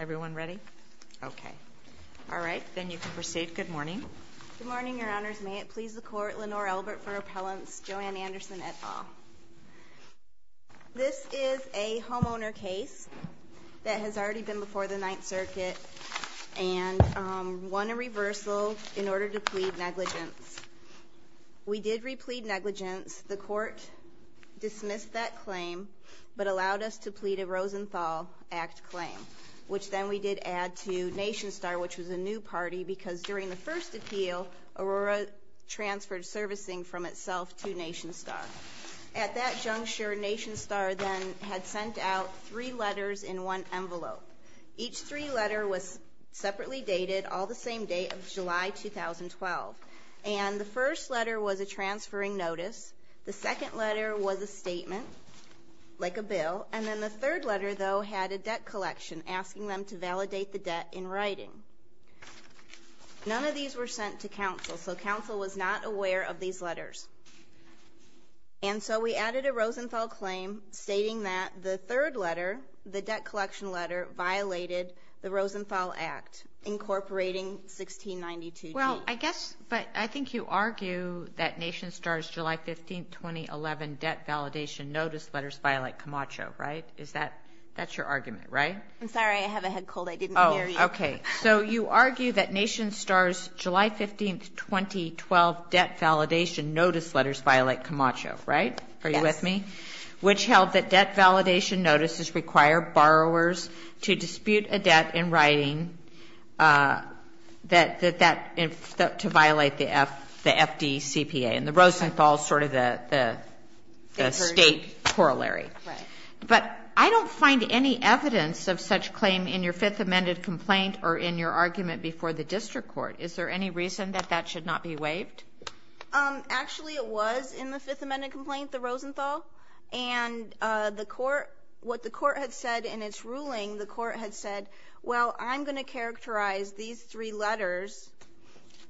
Everyone ready? Okay. All right, then you can proceed. Good morning. Good morning, Your Honors. May it please the Court, Lenore Elbert for appellants, Joanne Anderson, et al. This is a homeowner case that has already been before the Ninth Circuit and won a reversal in order to plead negligence. We did replead negligence. The Court dismissed that claim, but allowed us to plead a Rosenthal Act claim, which then we did add to NationStar, which was a new party, because during the first appeal, Aurora transferred servicing from itself to NationStar. At that juncture, NationStar then had sent out three letters in one envelope. Each three letter was separately dated, all the same date of July 2012. And the first letter was a transferring notice. The second letter was a statement, like a bill. And then the third letter, though, had a debt collection asking them to validate the debt in writing. None of these were sent to counsel, so counsel was not aware of these letters. And so we added a Rosenthal claim stating that the third letter, the debt collection letter, violated the Rosenthal Act, incorporating 1692G. Well, I guess, but I think you argue that NationStar's July 15, 2011 debt validation notice letters violate Camacho, right? That's your argument, right? I'm sorry, I have a head cold. I didn't hear you. Oh, okay. So you argue that NationStar's July 15, 2012 debt validation notice letters violate Camacho, right? Are you with me? Yes. Which held that debt validation notices require borrowers to dispute a debt in writing to violate the FDCPA. And the Rosenthal is sort of the state corollary. But I don't find any evidence of such claim in your Fifth Amendment complaint or in your argument before the district court. Is there any reason that that should not be waived? Actually, it was in the Fifth Amendment complaint, the Rosenthal. And the court, what the court had said in its ruling, the court had said, well, I'm going to characterize these three letters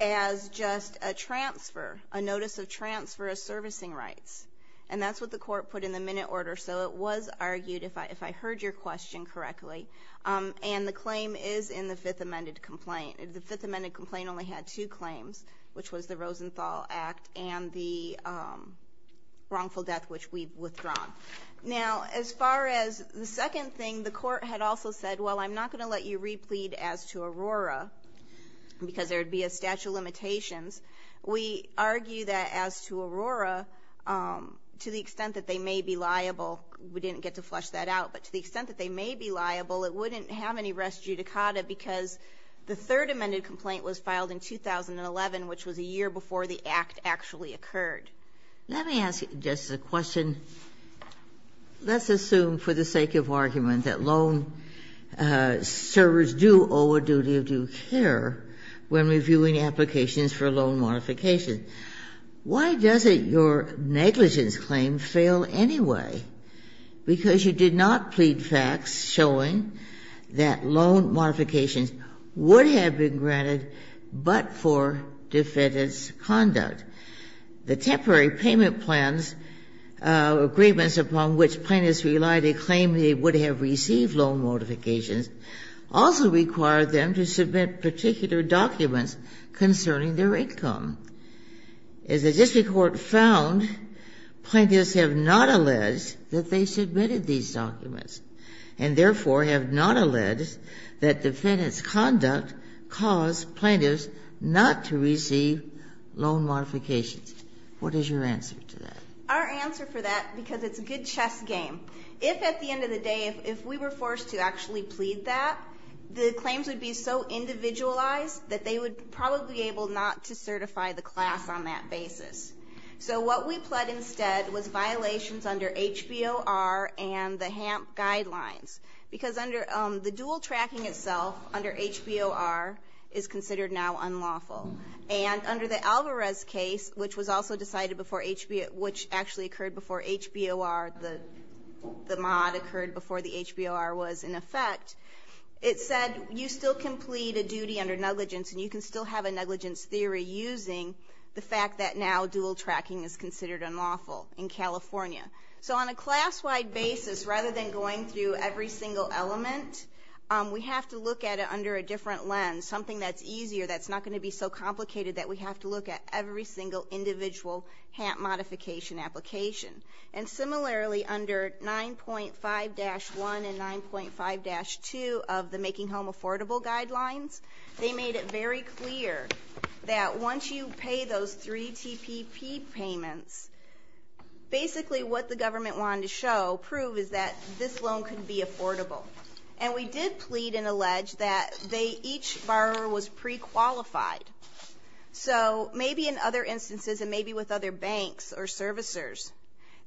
as just a transfer, a notice of transfer of servicing rights. And that's what the court put in the minute order. So it was argued, if I heard your question correctly, and the claim is in the Fifth Amendment complaint. The Fifth Amendment complaint only had two claims, which was the Rosenthal Act and the wrongful death, which we've withdrawn. Now, as far as the second thing, the court had also said, well, I'm not going to let you replead as to Aurora, because there would be a statute of limitations. We argue that as to Aurora, to the extent that they may be liable, we didn't get to flesh that out. But to the extent that they may be liable, it wouldn't have any res judicata, because the Third Amendment complaint was filed in 2011, which was a year before the Act actually occurred. Let me ask just a question. Let's assume for the sake of argument that loan servers do owe a duty of due care when reviewing applications for loan modification. Why doesn't your negligence claim fail anyway? Because you did not plead facts showing that loan modifications would have been granted but for defendant's conduct. The temporary payment plans, agreements upon which plaintiffs relied to claim they would have received loan modifications, also required them to submit particular documents concerning their income. As the district court found, plaintiffs have not alleged that they submitted these documents, and therefore have not alleged that defendant's conduct caused plaintiffs not to receive loan modifications. What is your answer to that? Our answer for that, because it's a good chess game. If at the end of the day, if we were forced to actually plead that, the claims would be so individualized that they would probably be able not to certify the class on that basis. So what we pled instead was violations under HBOR and the HAMP guidelines. Because under the dual tracking itself, under HBOR, is considered now unlawful. And under the Alvarez case, which was also decided before HBOR, which actually occurred before HBOR, the mod occurred before the HBOR was in effect, it said you still can plead a duty under negligence and you can still have a negligence theory using the fact that now dual tracking is considered unlawful in California. So on a class-wide basis, rather than going through every single element, we have to look at it under a different lens, something that's easier, that's not going to be so complicated that we have to look at every single individual HAMP modification application. And similarly, under 9.5-1 and 9.5-2 of the Making Home Affordable guidelines, they made it very clear that once you pay those three TPP payments, basically what the government wanted to show, prove, is that this loan can be affordable. And we did plead and allege that each borrower was pre-qualified. So maybe in other instances and maybe with other banks or servicers,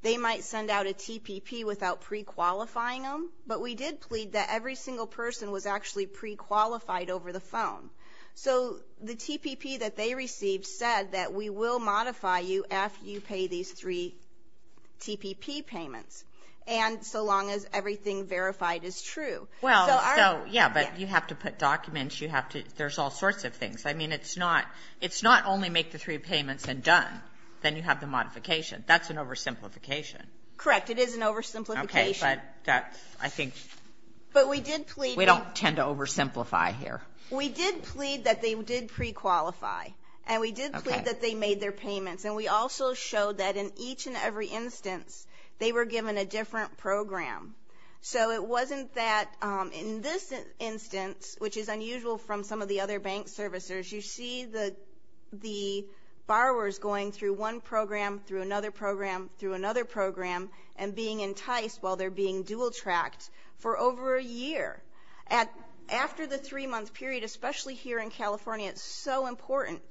they might send out a TPP without pre-qualifying them, but we did plead that every single person was actually pre-qualified over the phone. So the TPP that they received said that we will modify you after you pay these three TPP payments, and so long as everything verified is true. So our ---- Well, so, yeah, but you have to put documents. You have to ---- there's all sorts of things. I mean, it's not ---- it's not only make the three payments and done. Then you have the modification. That's an oversimplification. Correct. It is an oversimplification. Okay. But that's, I think ---- But we did plead ---- We don't tend to oversimplify here. We did plead that they did pre-qualify, and we did plead that they made their payments, and we also showed that in each and every instance, they were given a different program. So it wasn't that in this instance, which is unusual from some of the other bank servicers, you see the borrowers going through one program, through another program, through another program, and being enticed while they're being dual-tracked for over a year. After the three-month period, especially here in California, it's so important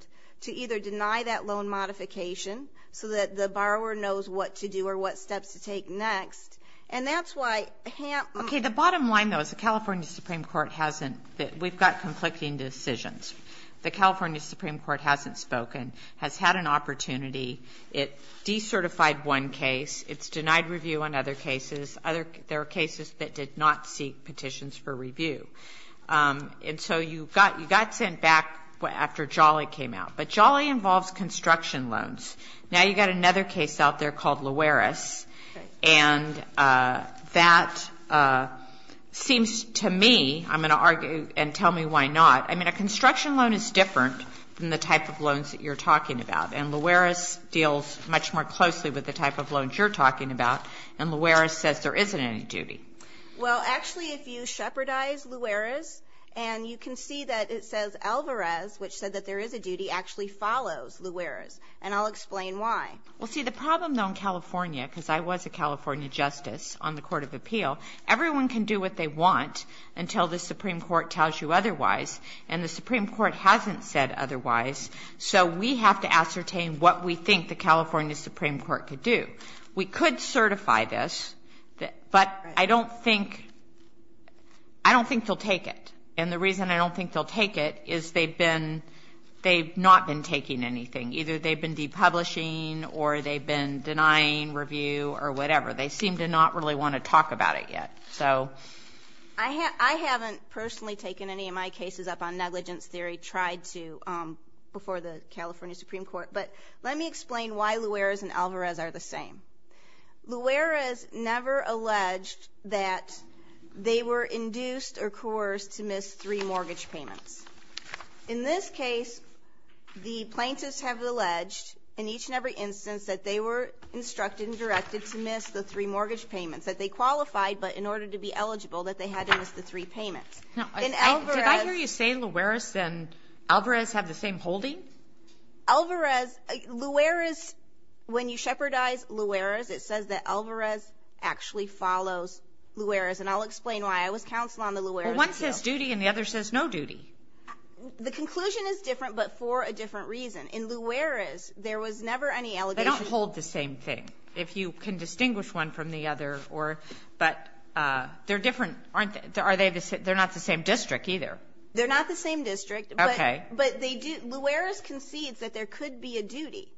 to either deny that loan modification so that the borrower knows what to do or what steps to take next. And that's why HAMP ---- Okay. The bottom line, though, is the California Supreme Court hasn't ---- we've got conflicting decisions. The California Supreme Court hasn't spoken, has had an opportunity. It decertified one case. It's denied review on other cases. There are cases that did not seek petitions for review. And so you got sent back after Jolly came out. But Jolly involves construction loans. Now you've got another case out there called Luares, and that seems to me ---- I'm going to argue and tell me why not. I mean, a construction loan is different than the type of loans that you're talking about. And Luares deals much more closely with the type of loans you're talking about, and Luares says there isn't any duty. Well, actually, if you shepherdize Luares, and you can see that it says Alvarez, which said that there is a duty, actually follows Luares, and I'll explain why. Well, see, the problem, though, in California, because I was a California justice on the court of appeal, everyone can do what they want until the Supreme Court tells you otherwise. And the Supreme Court hasn't said otherwise, so we have to ascertain what we think the California Supreme Court could do. We could certify this, but I don't think they'll take it. And the reason I don't think they'll take it is they've not been taking anything. Either they've been depublishing or they've been denying review or whatever. They seem to not really want to talk about it yet. So ---- I haven't personally taken any of my cases up on negligence theory, tried to, before the California Supreme Court. But let me explain why Luares and Alvarez are the same. Luares never alleged that they were induced or coerced to miss three mortgage payments. In this case, the plaintiffs have alleged, in each and every instance, that they were instructed and directed to miss the three mortgage payments, that they qualified, but in order to be eligible, that they had to miss the three payments. In Alvarez ---- Now, did I hear you say Luares and Alvarez have the same holding? Alvarez, Luares, when you shepherdize Luares, it says that Alvarez actually follows Luares. And I'll explain why. I was counsel on the Luares case. Well, one says duty and the other says no duty. The conclusion is different, but for a different reason. In Luares, there was never any allegation ---- They don't hold the same thing, if you can distinguish one from the other. But they're different, aren't they? They're not the same district, either. They're not the same district. Okay. But Luares concedes that there could be a duty.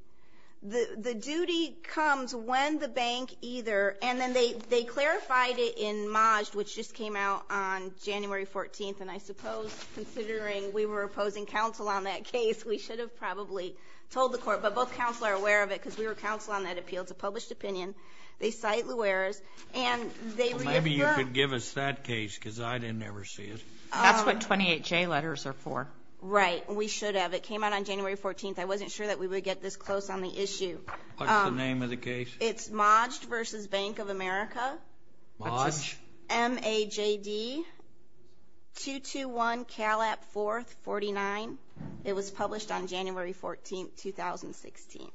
The duty comes when the bank either ---- And then they clarified it in Majd, which just came out on January 14th. And I suppose, considering we were opposing counsel on that case, we should have probably told the court. But both counsel are aware of it, because we were counsel on that appeal. It's a published opinion. They cite Luares, and they reaffirm ---- Maybe you could give us that case, because I didn't ever see it. That's what 28J letters are for. Right. We should have. It came out on January 14th. I wasn't sure that we would get this close on the issue. What's the name of the case? It's Majd v. Bank of America. Majd? M-A-J-D, 221 Calat 4th, 49. It was published on January 14th, 2016.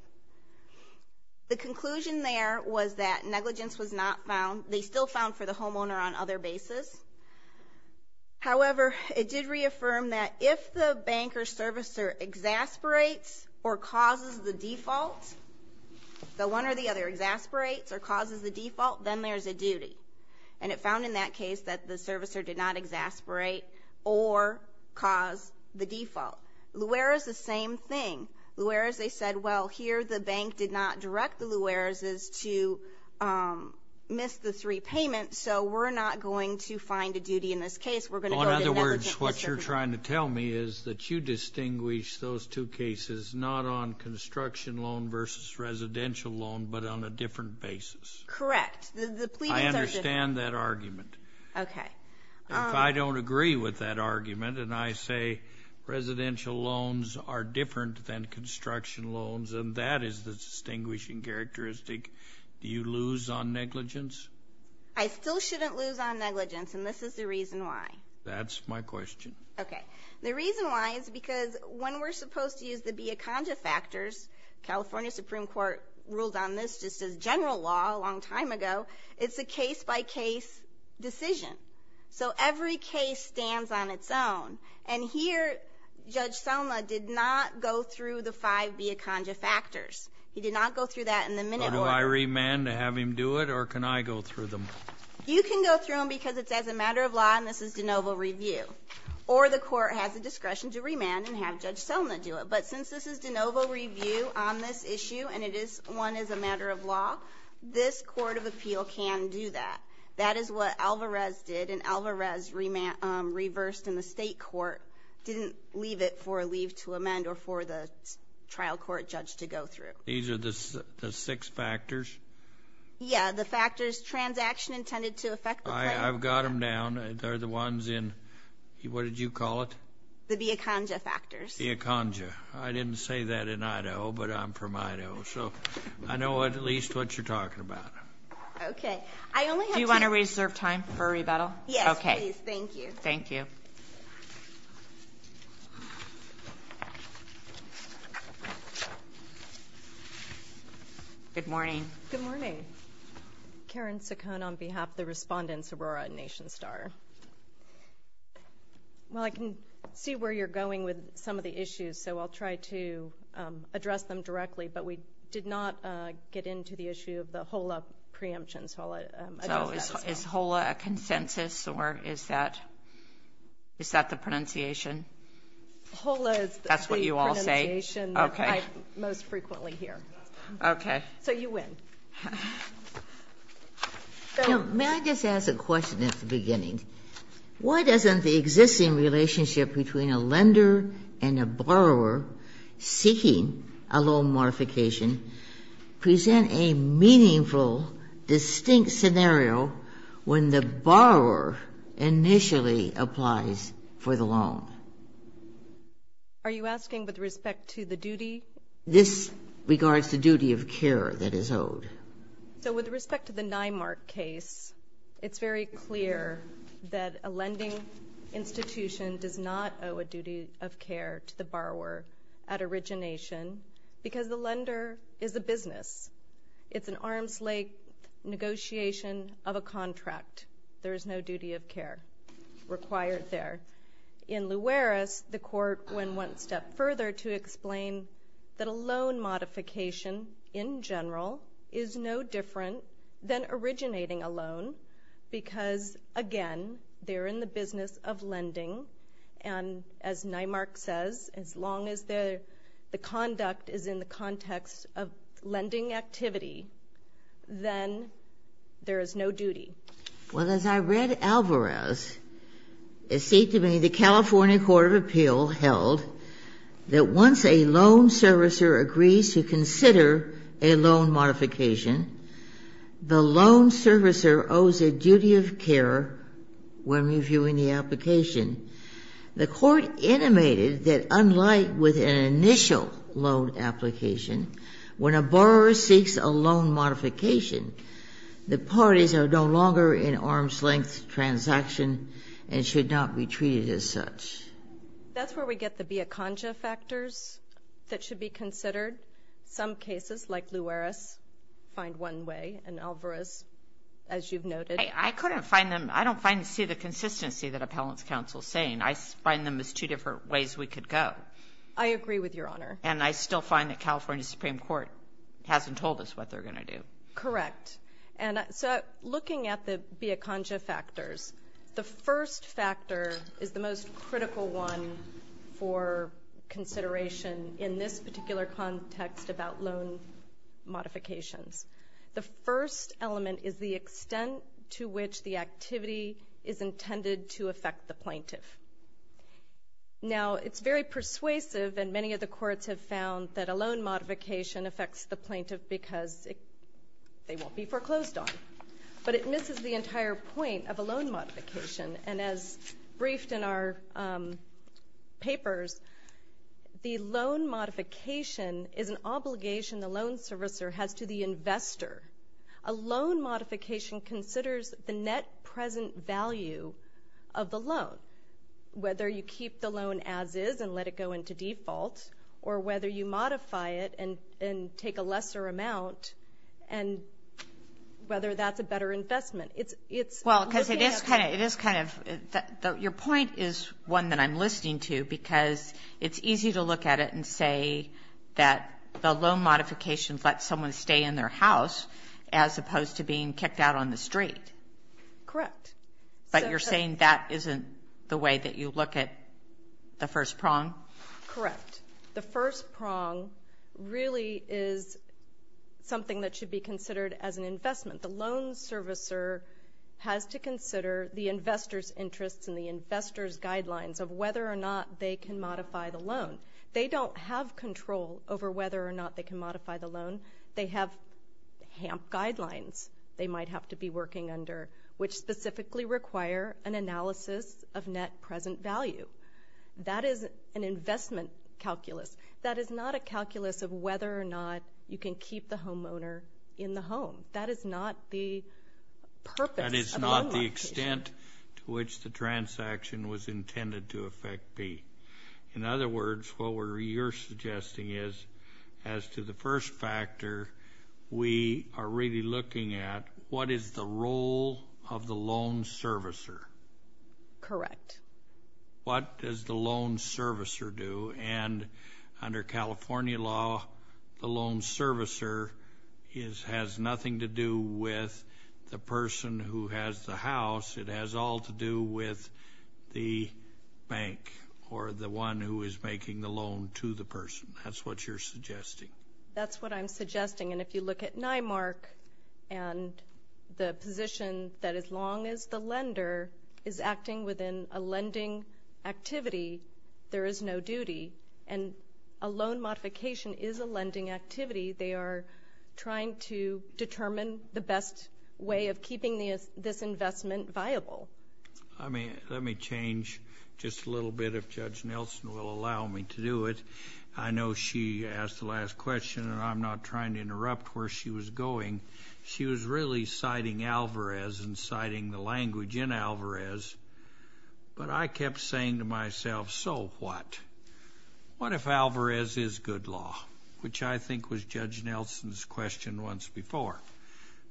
The conclusion there was that negligence was not found. They still found for the homeowner on other basis. However, it did reaffirm that if the bank or servicer exasperates or causes the default, the one or the other exasperates or causes the default, then there's a duty. And it found in that case that the servicer did not exasperate or cause the default. Luares, the same thing. Luares, they said, well, here the bank did not direct the Luareses to miss the three payments, so we're not going to find a duty in this case. In other words, what you're trying to tell me is that you distinguish those two cases not on construction loan versus residential loan but on a different basis. Correct. I understand that argument. Okay. If I don't agree with that argument and I say residential loans are different than construction loans, and that is the distinguishing characteristic, do you lose on negligence? I still shouldn't lose on negligence, and this is the reason why. That's my question. Okay. The reason why is because when we're supposed to use the Biaconga factors, California Supreme Court ruled on this just as general law a long time ago, it's a case-by-case decision. So every case stands on its own. And here Judge Selma did not go through the five Biaconga factors. He did not go through that in the minute order. So do I remand to have him do it, or can I go through them? You can go through them because it's as a matter of law, and this is de novo review. Or the court has the discretion to remand and have Judge Selma do it. But since this is de novo review on this issue and it is one as a matter of law, this court of appeal can do that. That is what Alvarez did, and Alvarez reversed in the state court, didn't leave it for a leave to amend or for the trial court judge to go through. These are the six factors? Yeah, the factors, transaction intended to affect the claim. I've got them down. They're the ones in, what did you call it? The Biaconga factors. Biaconga. I didn't say that in Idaho, but I'm from Idaho. So I know at least what you're talking about. Okay. Do you want to reserve time for rebuttal? Yes, please. Thank you. Thank you. Good morning. Good morning. Karen Saccone on behalf of the respondents of Aurora and Nation Star. Well, I can see where you're going with some of the issues, so I'll try to address them directly. But we did not get into the issue of the HOLA preemptions. So I'll address that as well. So is HOLA a consensus or is that the pronunciation? HOLA is the pronunciation that I most frequently hear. Okay. So you win. May I just ask a question at the beginning? Why doesn't the existing relationship between a lender and a borrower seeking a loan modification present a meaningful, distinct scenario when the borrower initially applies for the loan? Are you asking with respect to the duty? This regards the duty of care that is owed. So with respect to the Nymark case, it's very clear that a lending institution does not owe a duty of care to the borrower at origination because the lender is a business. It's an arm's length negotiation of a contract. There is no duty of care required there. In Luares, the court went one step further to explain that a loan modification, in general, is no different than originating a loan because, again, they're in the business of lending. And as Nymark says, as long as the conduct is in the context of lending activity, then there is no duty. Well, as I read Alvarez, it seemed to me the California Court of Appeal held that once a loan servicer agrees to consider a loan modification, the loan servicer owes a duty of care when reviewing the application. The court intimated that unlike with an initial loan application, when a borrower seeks a loan modification, the parties are no longer in arm's length transaction and should not be treated as such. That's where we get the via conga factors that should be considered. Some cases, like Luares, find one way, and Alvarez, as you've noted. I couldn't find them. I don't see the consistency that Appellant's Counsel is saying. I find them as two different ways we could go. I agree with Your Honor. And I still find that California Supreme Court hasn't told us what they're going to do. Correct. And so looking at the via conga factors, the first factor is the most critical one for consideration in this particular context about loan modifications. The first element is the extent to which the activity is intended to affect the plaintiff. Now, it's very persuasive, and many of the courts have found that a loan modification affects the plaintiff because they won't be foreclosed on. But it misses the entire point of a loan modification. And as briefed in our papers, the loan modification is an obligation the loan servicer has to the investor. A loan modification considers the net present value of the loan, whether you keep the loan as is and let it go into default, or whether you modify it and take a lesser amount, and whether that's a better investment. Your point is one that I'm listening to, because it's easy to look at it and say that the loan modification lets someone stay in their house as opposed to being kicked out on the street. Correct. But you're saying that isn't the way that you look at the first prong? Correct. The first prong really is something that should be considered as an investment. The loan servicer has to consider the investor's interests and the investor's guidelines of whether or not they can modify the loan. They don't have control over whether or not they can modify the loan. They have HAMP guidelines they might have to be working under, which specifically require an analysis of net present value. That is an investment calculus. That is not a calculus of whether or not you can keep the homeowner in the home. That is not the purpose of the loan modification. That is not the extent to which the transaction was intended to affect B. In other words, what you're suggesting is as to the first factor, we are really looking at what is the role of the loan servicer. Correct. What does the loan servicer do? And under California law, the loan servicer has nothing to do with the person who has the house. It has all to do with the bank or the one who is making the loan to the person. That's what you're suggesting. That's what I'm suggesting. And if you look at NIMARC and the position that as long as the lender is and a loan modification is a lending activity, they are trying to determine the best way of keeping this investment viable. Let me change just a little bit, if Judge Nelson will allow me to do it. I know she asked the last question, and I'm not trying to interrupt where she was going. But I kept saying to myself, so what? What if Alvarez is good law, which I think was Judge Nelson's question once before.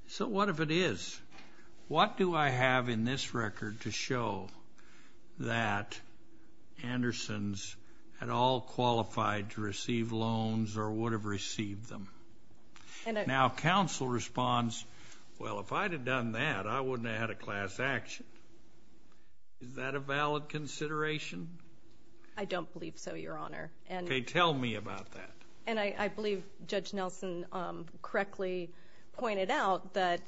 So what if it is? What do I have in this record to show that Andersons had all qualified to receive loans or would have received them? And now counsel responds, well, if I'd have done that, I wouldn't have had a class action. Is that a valid consideration? I don't believe so, Your Honor. Okay. Tell me about that. And I believe Judge Nelson correctly pointed out that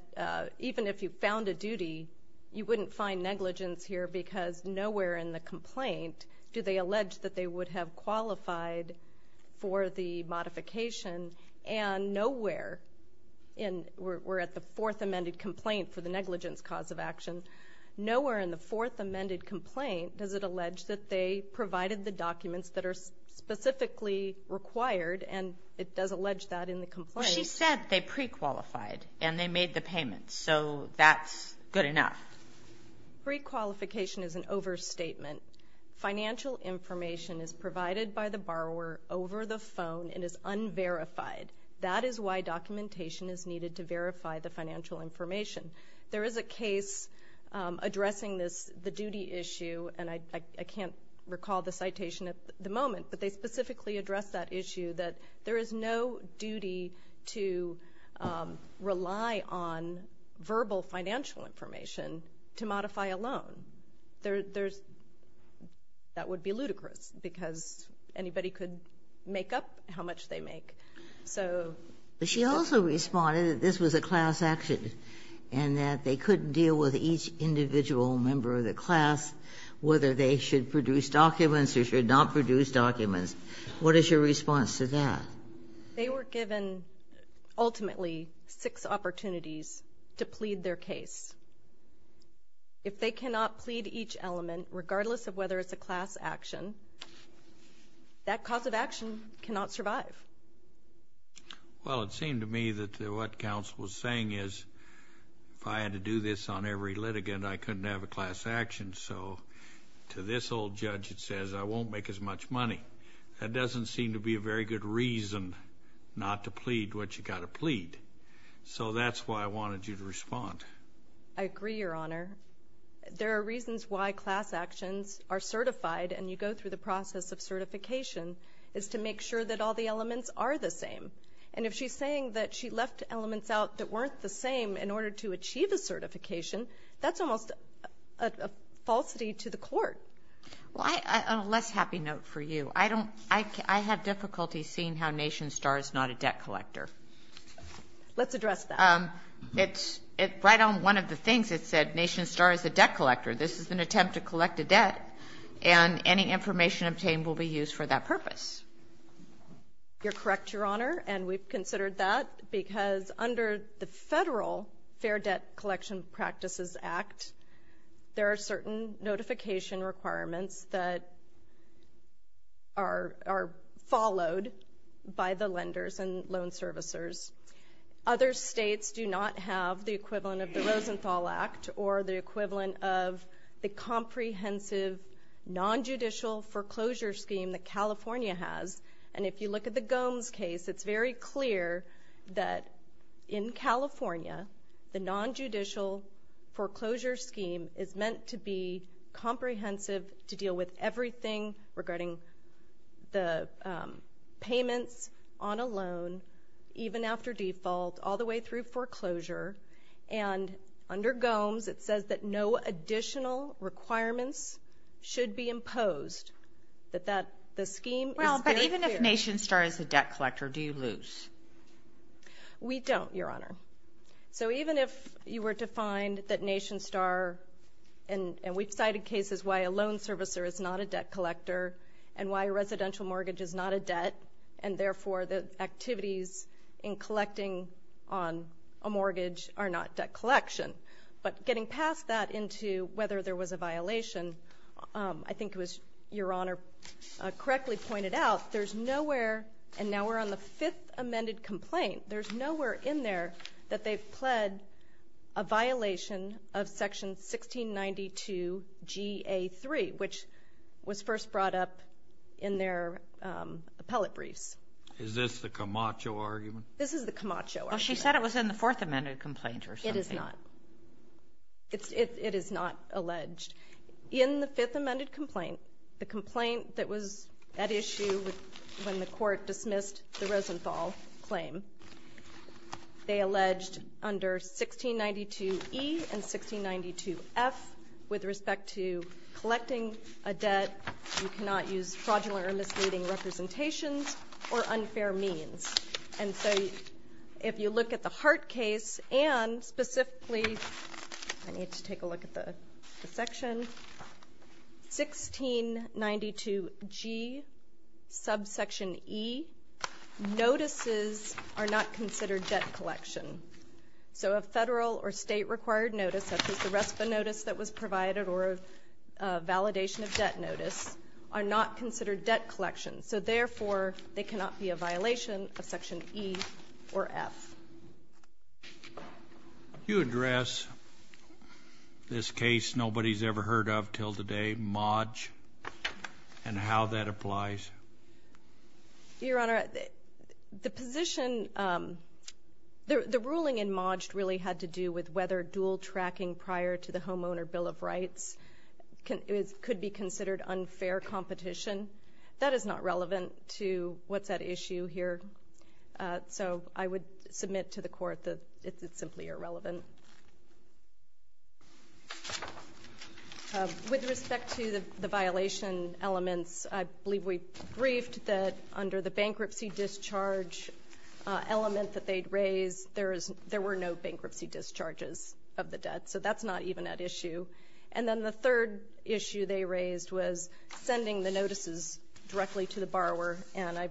even if you found a duty, you wouldn't find negligence here because nowhere in the complaint do they allege that they would have qualified for the modification. And nowhere, and we're at the fourth amended complaint for the negligence cause of action, nowhere in the fourth amended complaint does it allege that they provided the documents that are specifically required, and it does allege that in the complaint. Well, she said they prequalified and they made the payments, so that's good enough. Prequalification is an overstatement. Financial information is provided by the borrower over the phone and is unverified. That is why documentation is needed to verify the financial information. There is a case addressing this, the duty issue, and I can't recall the citation at the moment, but they specifically address that issue that there is no duty to rely on verbal financial information to modify a loan. That would be ludicrous because anybody could make up how much they make. But she also responded that this was a class action and that they couldn't deal with each individual member of the class, whether they should produce documents or should not produce documents. What is your response to that? They were given ultimately six opportunities to plead their case. If they cannot plead each element, regardless of whether it's a class action, that cause of action cannot survive. Well, it seemed to me that what counsel was saying is if I had to do this on every litigant, I couldn't have a class action. So to this old judge, it says I won't make as much money. That doesn't seem to be a very good reason not to plead what you've got to plead. So that's why I wanted you to respond. I agree, Your Honor. There are reasons why class actions are certified, and you go through the process of certification, is to make sure that all the elements are the same. And if she's saying that she left elements out that weren't the same in order to achieve a certification, that's almost a falsity to the court. On a less happy note for you, I have difficulty seeing how NationStar is not a debt collector. Let's address that. Right on one of the things it said, NationStar is a debt collector. This is an attempt to collect a debt, and any information obtained will be used for that purpose. You're correct, Your Honor, and we've considered that, because under the federal Fair Debt Collection Practices Act, there are certain notification requirements that are followed by the lenders and loan servicers. Other states do not have the equivalent of the Rosenthal Act or the equivalent of the comprehensive nonjudicial foreclosure scheme that California has. And if you look at the Gomes case, it's very clear that in California, the nonjudicial foreclosure scheme is meant to be comprehensive to deal with everything regarding the payments on a loan, even after default, all the way through foreclosure. And under Gomes, it says that no additional requirements should be imposed, that the scheme is very clear. Well, but even if NationStar is a debt collector, do you lose? We don't, Your Honor. So even if you were to find that NationStar, and we've cited cases why a loan servicer is not a debt collector and why a residential mortgage is not a debt, and therefore the activities in collecting on a mortgage are not debt collection. But getting past that into whether there was a violation, I think it was Your Honor correctly pointed out, there's nowhere, and now we're on the fifth amended complaint, there's nowhere in there that they've pled a violation of section 1692 GA3, which was first brought up in their appellate briefs. Is this the Camacho argument? This is the Camacho argument. Well, she said it was in the fourth amended complaint or something. It is not. It is not alleged. In the fifth amended complaint, the complaint that was at issue when the court dismissed the Rosenthal claim, they alleged under 1692E and 1692F with respect to collecting a debt, you cannot use fraudulent or misleading representations or unfair means. And so if you look at the Hart case and specifically, I need to take a look at the section, 1692G subsection E, notices are not considered debt collection. So a federal or state required notice, such as the RESPA notice that was provided or a validation of debt notice, are not considered debt collection. So therefore, they cannot be a violation of section E or F. You address this case nobody's ever heard of until today, Modge, and how that applies. Your Honor, the position, the ruling in Modge really had to do with whether dual tracking prior to the Homeowner Bill of Rights could be considered unfair competition. That is not relevant to what's at issue here. So I would submit to the court that it's simply irrelevant. With respect to the violation elements, I believe we briefed that under the bankruptcy discharge element that they'd raised, there were no bankruptcy discharges of the debt. So that's not even at issue. And then the third issue they raised was sending the notices directly to the borrower. And I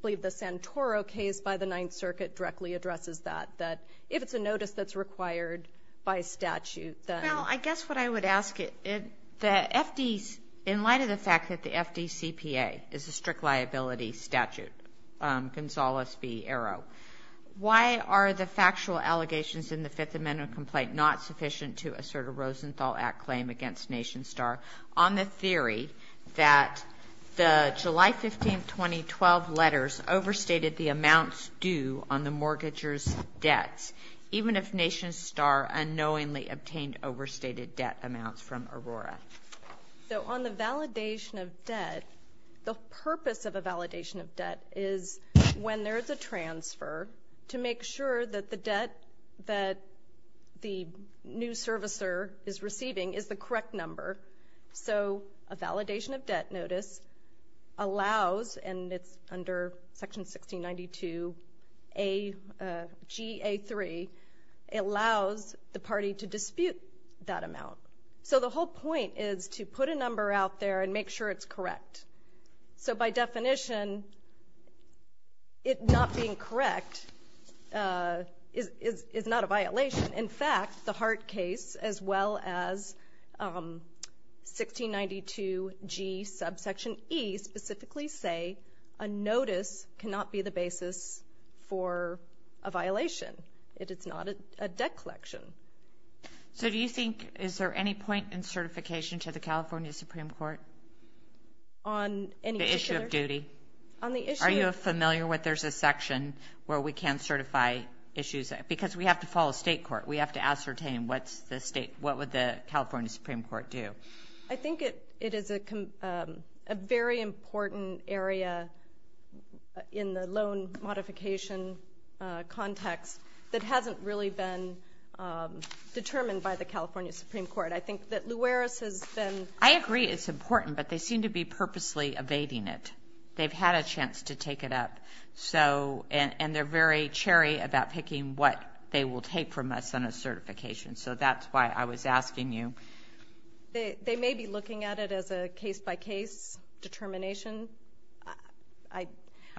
believe the Santoro case by the Ninth Circuit directly addresses that, that if it's a notice that's required by statute, then the FDs. Well, I guess what I would ask, in light of the fact that the FDCPA is a strict liability statute, Gonzales v. Arrow, why are the factual allegations in the Fifth Amendment complaint not sufficient to assert a Rosenthal Act claim against Nation Star on the theory that the July 15th 2012 letters overstated the amounts due on the mortgager's debts, even if Nation Star unknowingly obtained overstated debt amounts from Aurora? So on the validation of debt, the purpose of a validation of debt is when there's a transfer, to make sure that the debt that the new servicer is receiving is the correct number. So a validation of debt notice allows, and it's under Section 1692 G.A. 3, it allows the party to dispute that amount. So the whole point is to put a number out there and make sure it's correct. So by definition, it not being correct is not a violation. In fact, the Hart case, as well as 1692 G.A. subsection E, specifically say a notice cannot be the basis for a violation. It is not a debt collection. So do you think, is there any point in certification to the California Supreme Court? On any particular? The issue of duty. Are you familiar with there's a section where we can certify issues? Because we have to follow state court. We have to ascertain what would the California Supreme Court do. I think it is a very important area in the loan modification context that hasn't really been determined by the California Supreme Court. I think that Luares has been. I agree it's important, but they seem to be purposely evading it. They've had a chance to take it up. And they're very cherry about picking what they will take from us on a certification. So that's why I was asking you. They may be looking at it as a case-by-case determination. All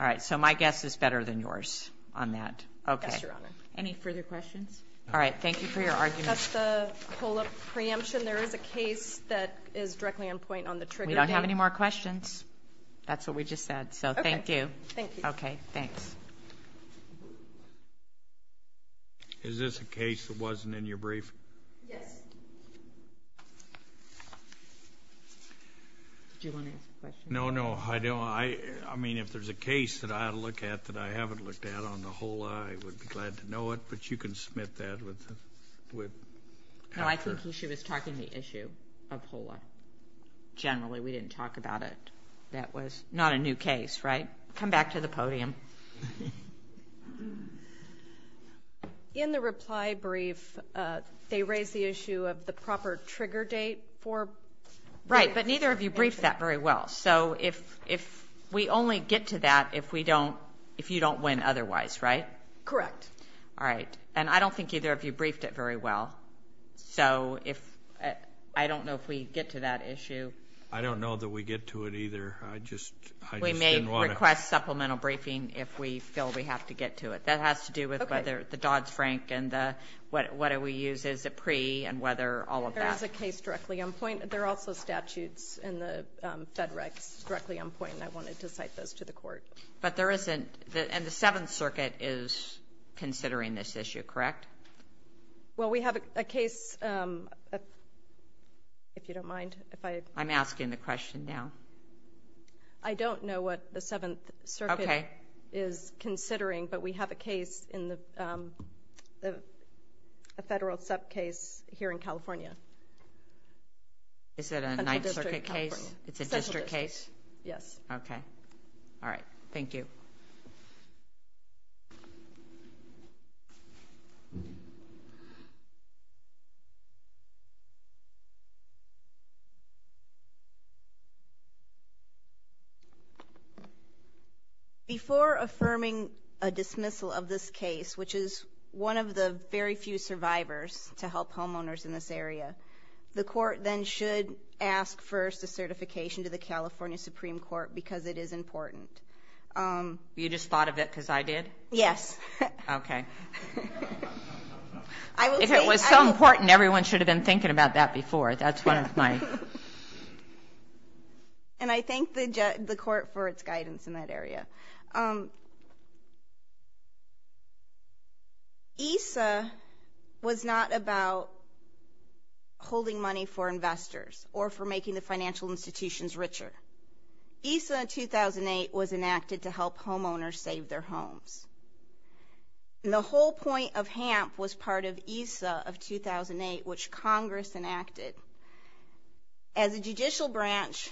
right. So my guess is better than yours on that. Yes, Your Honor. Any further questions? All right. Thank you for your argument. That's the COLA preemption. There is a case that is directly on point on the trigger date. We don't have any more questions. That's what we just said. So thank you. Thank you. Okay, thanks. Is this a case that wasn't in your brief? Yes. Do you want to ask a question? No, no, I don't. I mean, if there's a case that I look at that I haven't looked at on the COLA, I would be glad to know it, but you can submit that. No, I think she was talking the issue of COLA. Generally, we didn't talk about it. That was not a new case, right? Come back to the podium. In the reply brief, they raised the issue of the proper trigger date. Right, but neither of you briefed that very well. So if we only get to that if you don't win otherwise, right? Correct. All right. And I don't think either of you briefed it very well. So I don't know if we get to that issue. I don't know that we get to it either. I just didn't want to. We may request supplemental briefing if we feel we have to get to it. That has to do with whether the Dodds-Frank and what do we use as a pre and whether all of that. There is a case directly on point. There are also statutes in the Fed Recs directly on point, and I wanted to cite those to the Court. But there isn't, and the Seventh Circuit is considering this issue, correct? Well, we have a case, if you don't mind. I'm asking the question now. I don't know what the Seventh Circuit is considering, but we have a case, a federal sub-case here in California. Is it a Ninth Circuit case? It's a district case. Yes. Okay. All right. Thank you. Before affirming a dismissal of this case, which is one of the very few survivors to help homeowners in this area, the court then should ask first a certification to the California Supreme Court because it is important. You just thought of it because I did? Yes. Okay. If it was so important, everyone should have been thinking about that before. That's one of my – And I thank the court for its guidance in that area. ESA was not about holding money for investors or for making the financial institutions richer. ESA in 2008 was enacted to help homeowners save their homes. And the whole point of HAMP was part of ESA of 2008, which Congress enacted. As a judicial branch,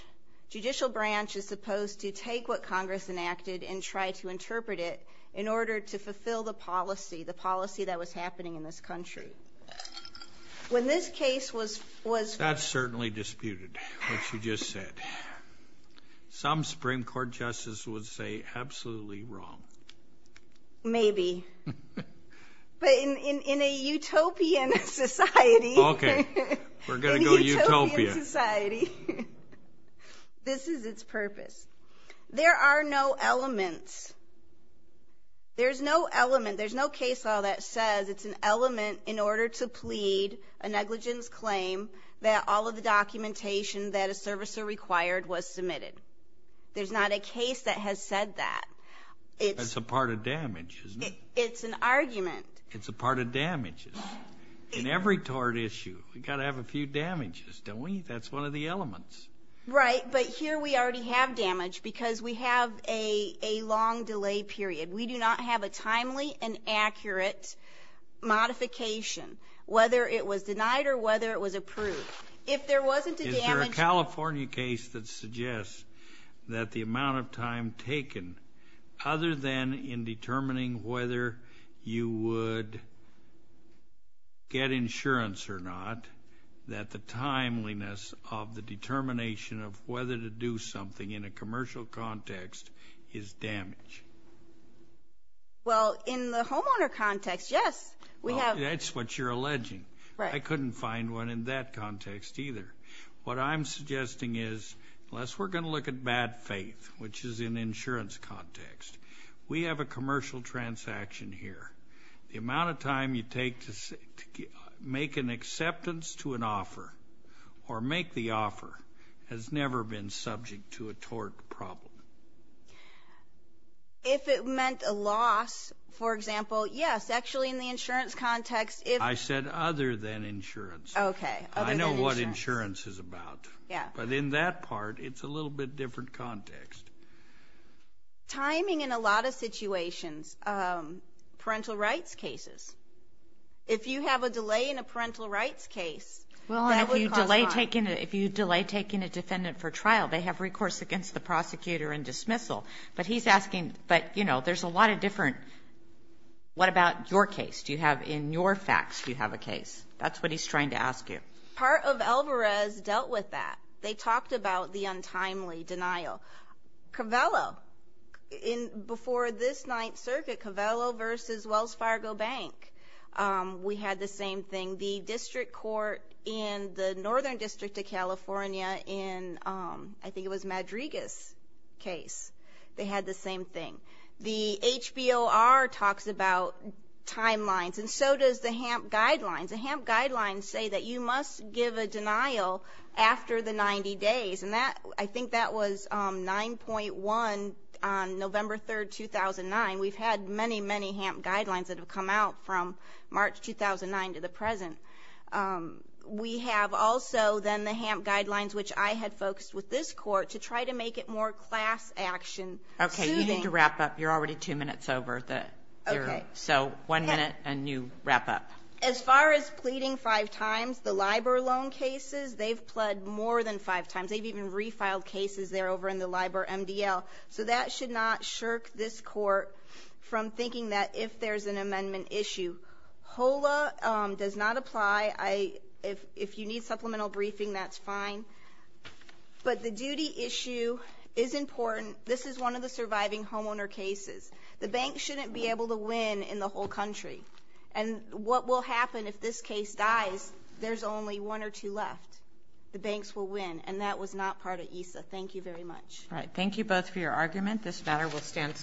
judicial branch is supposed to take what Congress enacted and try to interpret it in order to fulfill the policy, the policy that was happening in this country. When this case was – That's certainly disputed, what you just said. Some Supreme Court justices would say absolutely wrong. Maybe. But in a utopian society – Okay. We're going to go utopia. In a utopian society, this is its purpose. There are no elements. There's no element. There's no case law that says it's an element in order to plead a negligence claim that all of the documentation that a servicer required was submitted. There's not a case that has said that. That's a part of damage, isn't it? It's an argument. It's a part of damages. In every tort issue, we've got to have a few damages, don't we? That's one of the elements. Right, but here we already have damage because we have a long delay period. We do not have a timely and accurate modification, whether it was denied or whether it was approved. If there wasn't a damage – Is there a California case that suggests that the amount of time taken, other than in determining whether you would get insurance or not, that the timeliness of the determination of whether to do something in a commercial context is damage? Well, in the homeowner context, yes. That's what you're alleging. I couldn't find one in that context either. What I'm suggesting is, unless we're going to look at bad faith, which is an insurance context, we have a commercial transaction here. The amount of time you take to make an acceptance to an offer or make the offer has never been subject to a tort problem. If it meant a loss, for example, yes. Actually, in the insurance context, if – I said other than insurance. Okay, other than insurance. I know what insurance is about. But in that part, it's a little bit different context. Timing in a lot of situations, parental rights cases. If you have a delay in a parental rights case, that would cause harm. Well, and if you delay taking a defendant for trial, they have recourse against the prosecutor and dismissal. But he's asking – but, you know, there's a lot of different – what about your case? In your facts, do you have a case? That's what he's trying to ask you. Part of Alvarez dealt with that. They talked about the untimely denial. Covello, before this Ninth Circuit, Covello versus Wells Fargo Bank, we had the same thing. The district court in the Northern District of California in – I think it was Madrigas' case. They had the same thing. The HBOR talks about timelines, and so does the HAMP guidelines. The HAMP guidelines say that you must give a denial after the 90 days, and I think that was 9.1 on November 3, 2009. We've had many, many HAMP guidelines that have come out from March 2009 to the present. We have also then the HAMP guidelines, which I had focused with this court to try to make it more class action. Okay, you need to wrap up. You're already two minutes over. Okay. So one minute and you wrap up. As far as pleading five times, the LIBOR loan cases, they've pled more than five times. They've even refiled cases there over in the LIBOR MDL. So that should not shirk this court from thinking that if there's an amendment issue. HOLA does not apply. If you need supplemental briefing, that's fine. But the duty issue is important. This is one of the surviving homeowner cases. The bank shouldn't be able to win in the whole country. And what will happen if this case dies, there's only one or two left. The banks will win, and that was not part of ESA. Thank you very much. All right. Thank you both for your argument. This matter will stand.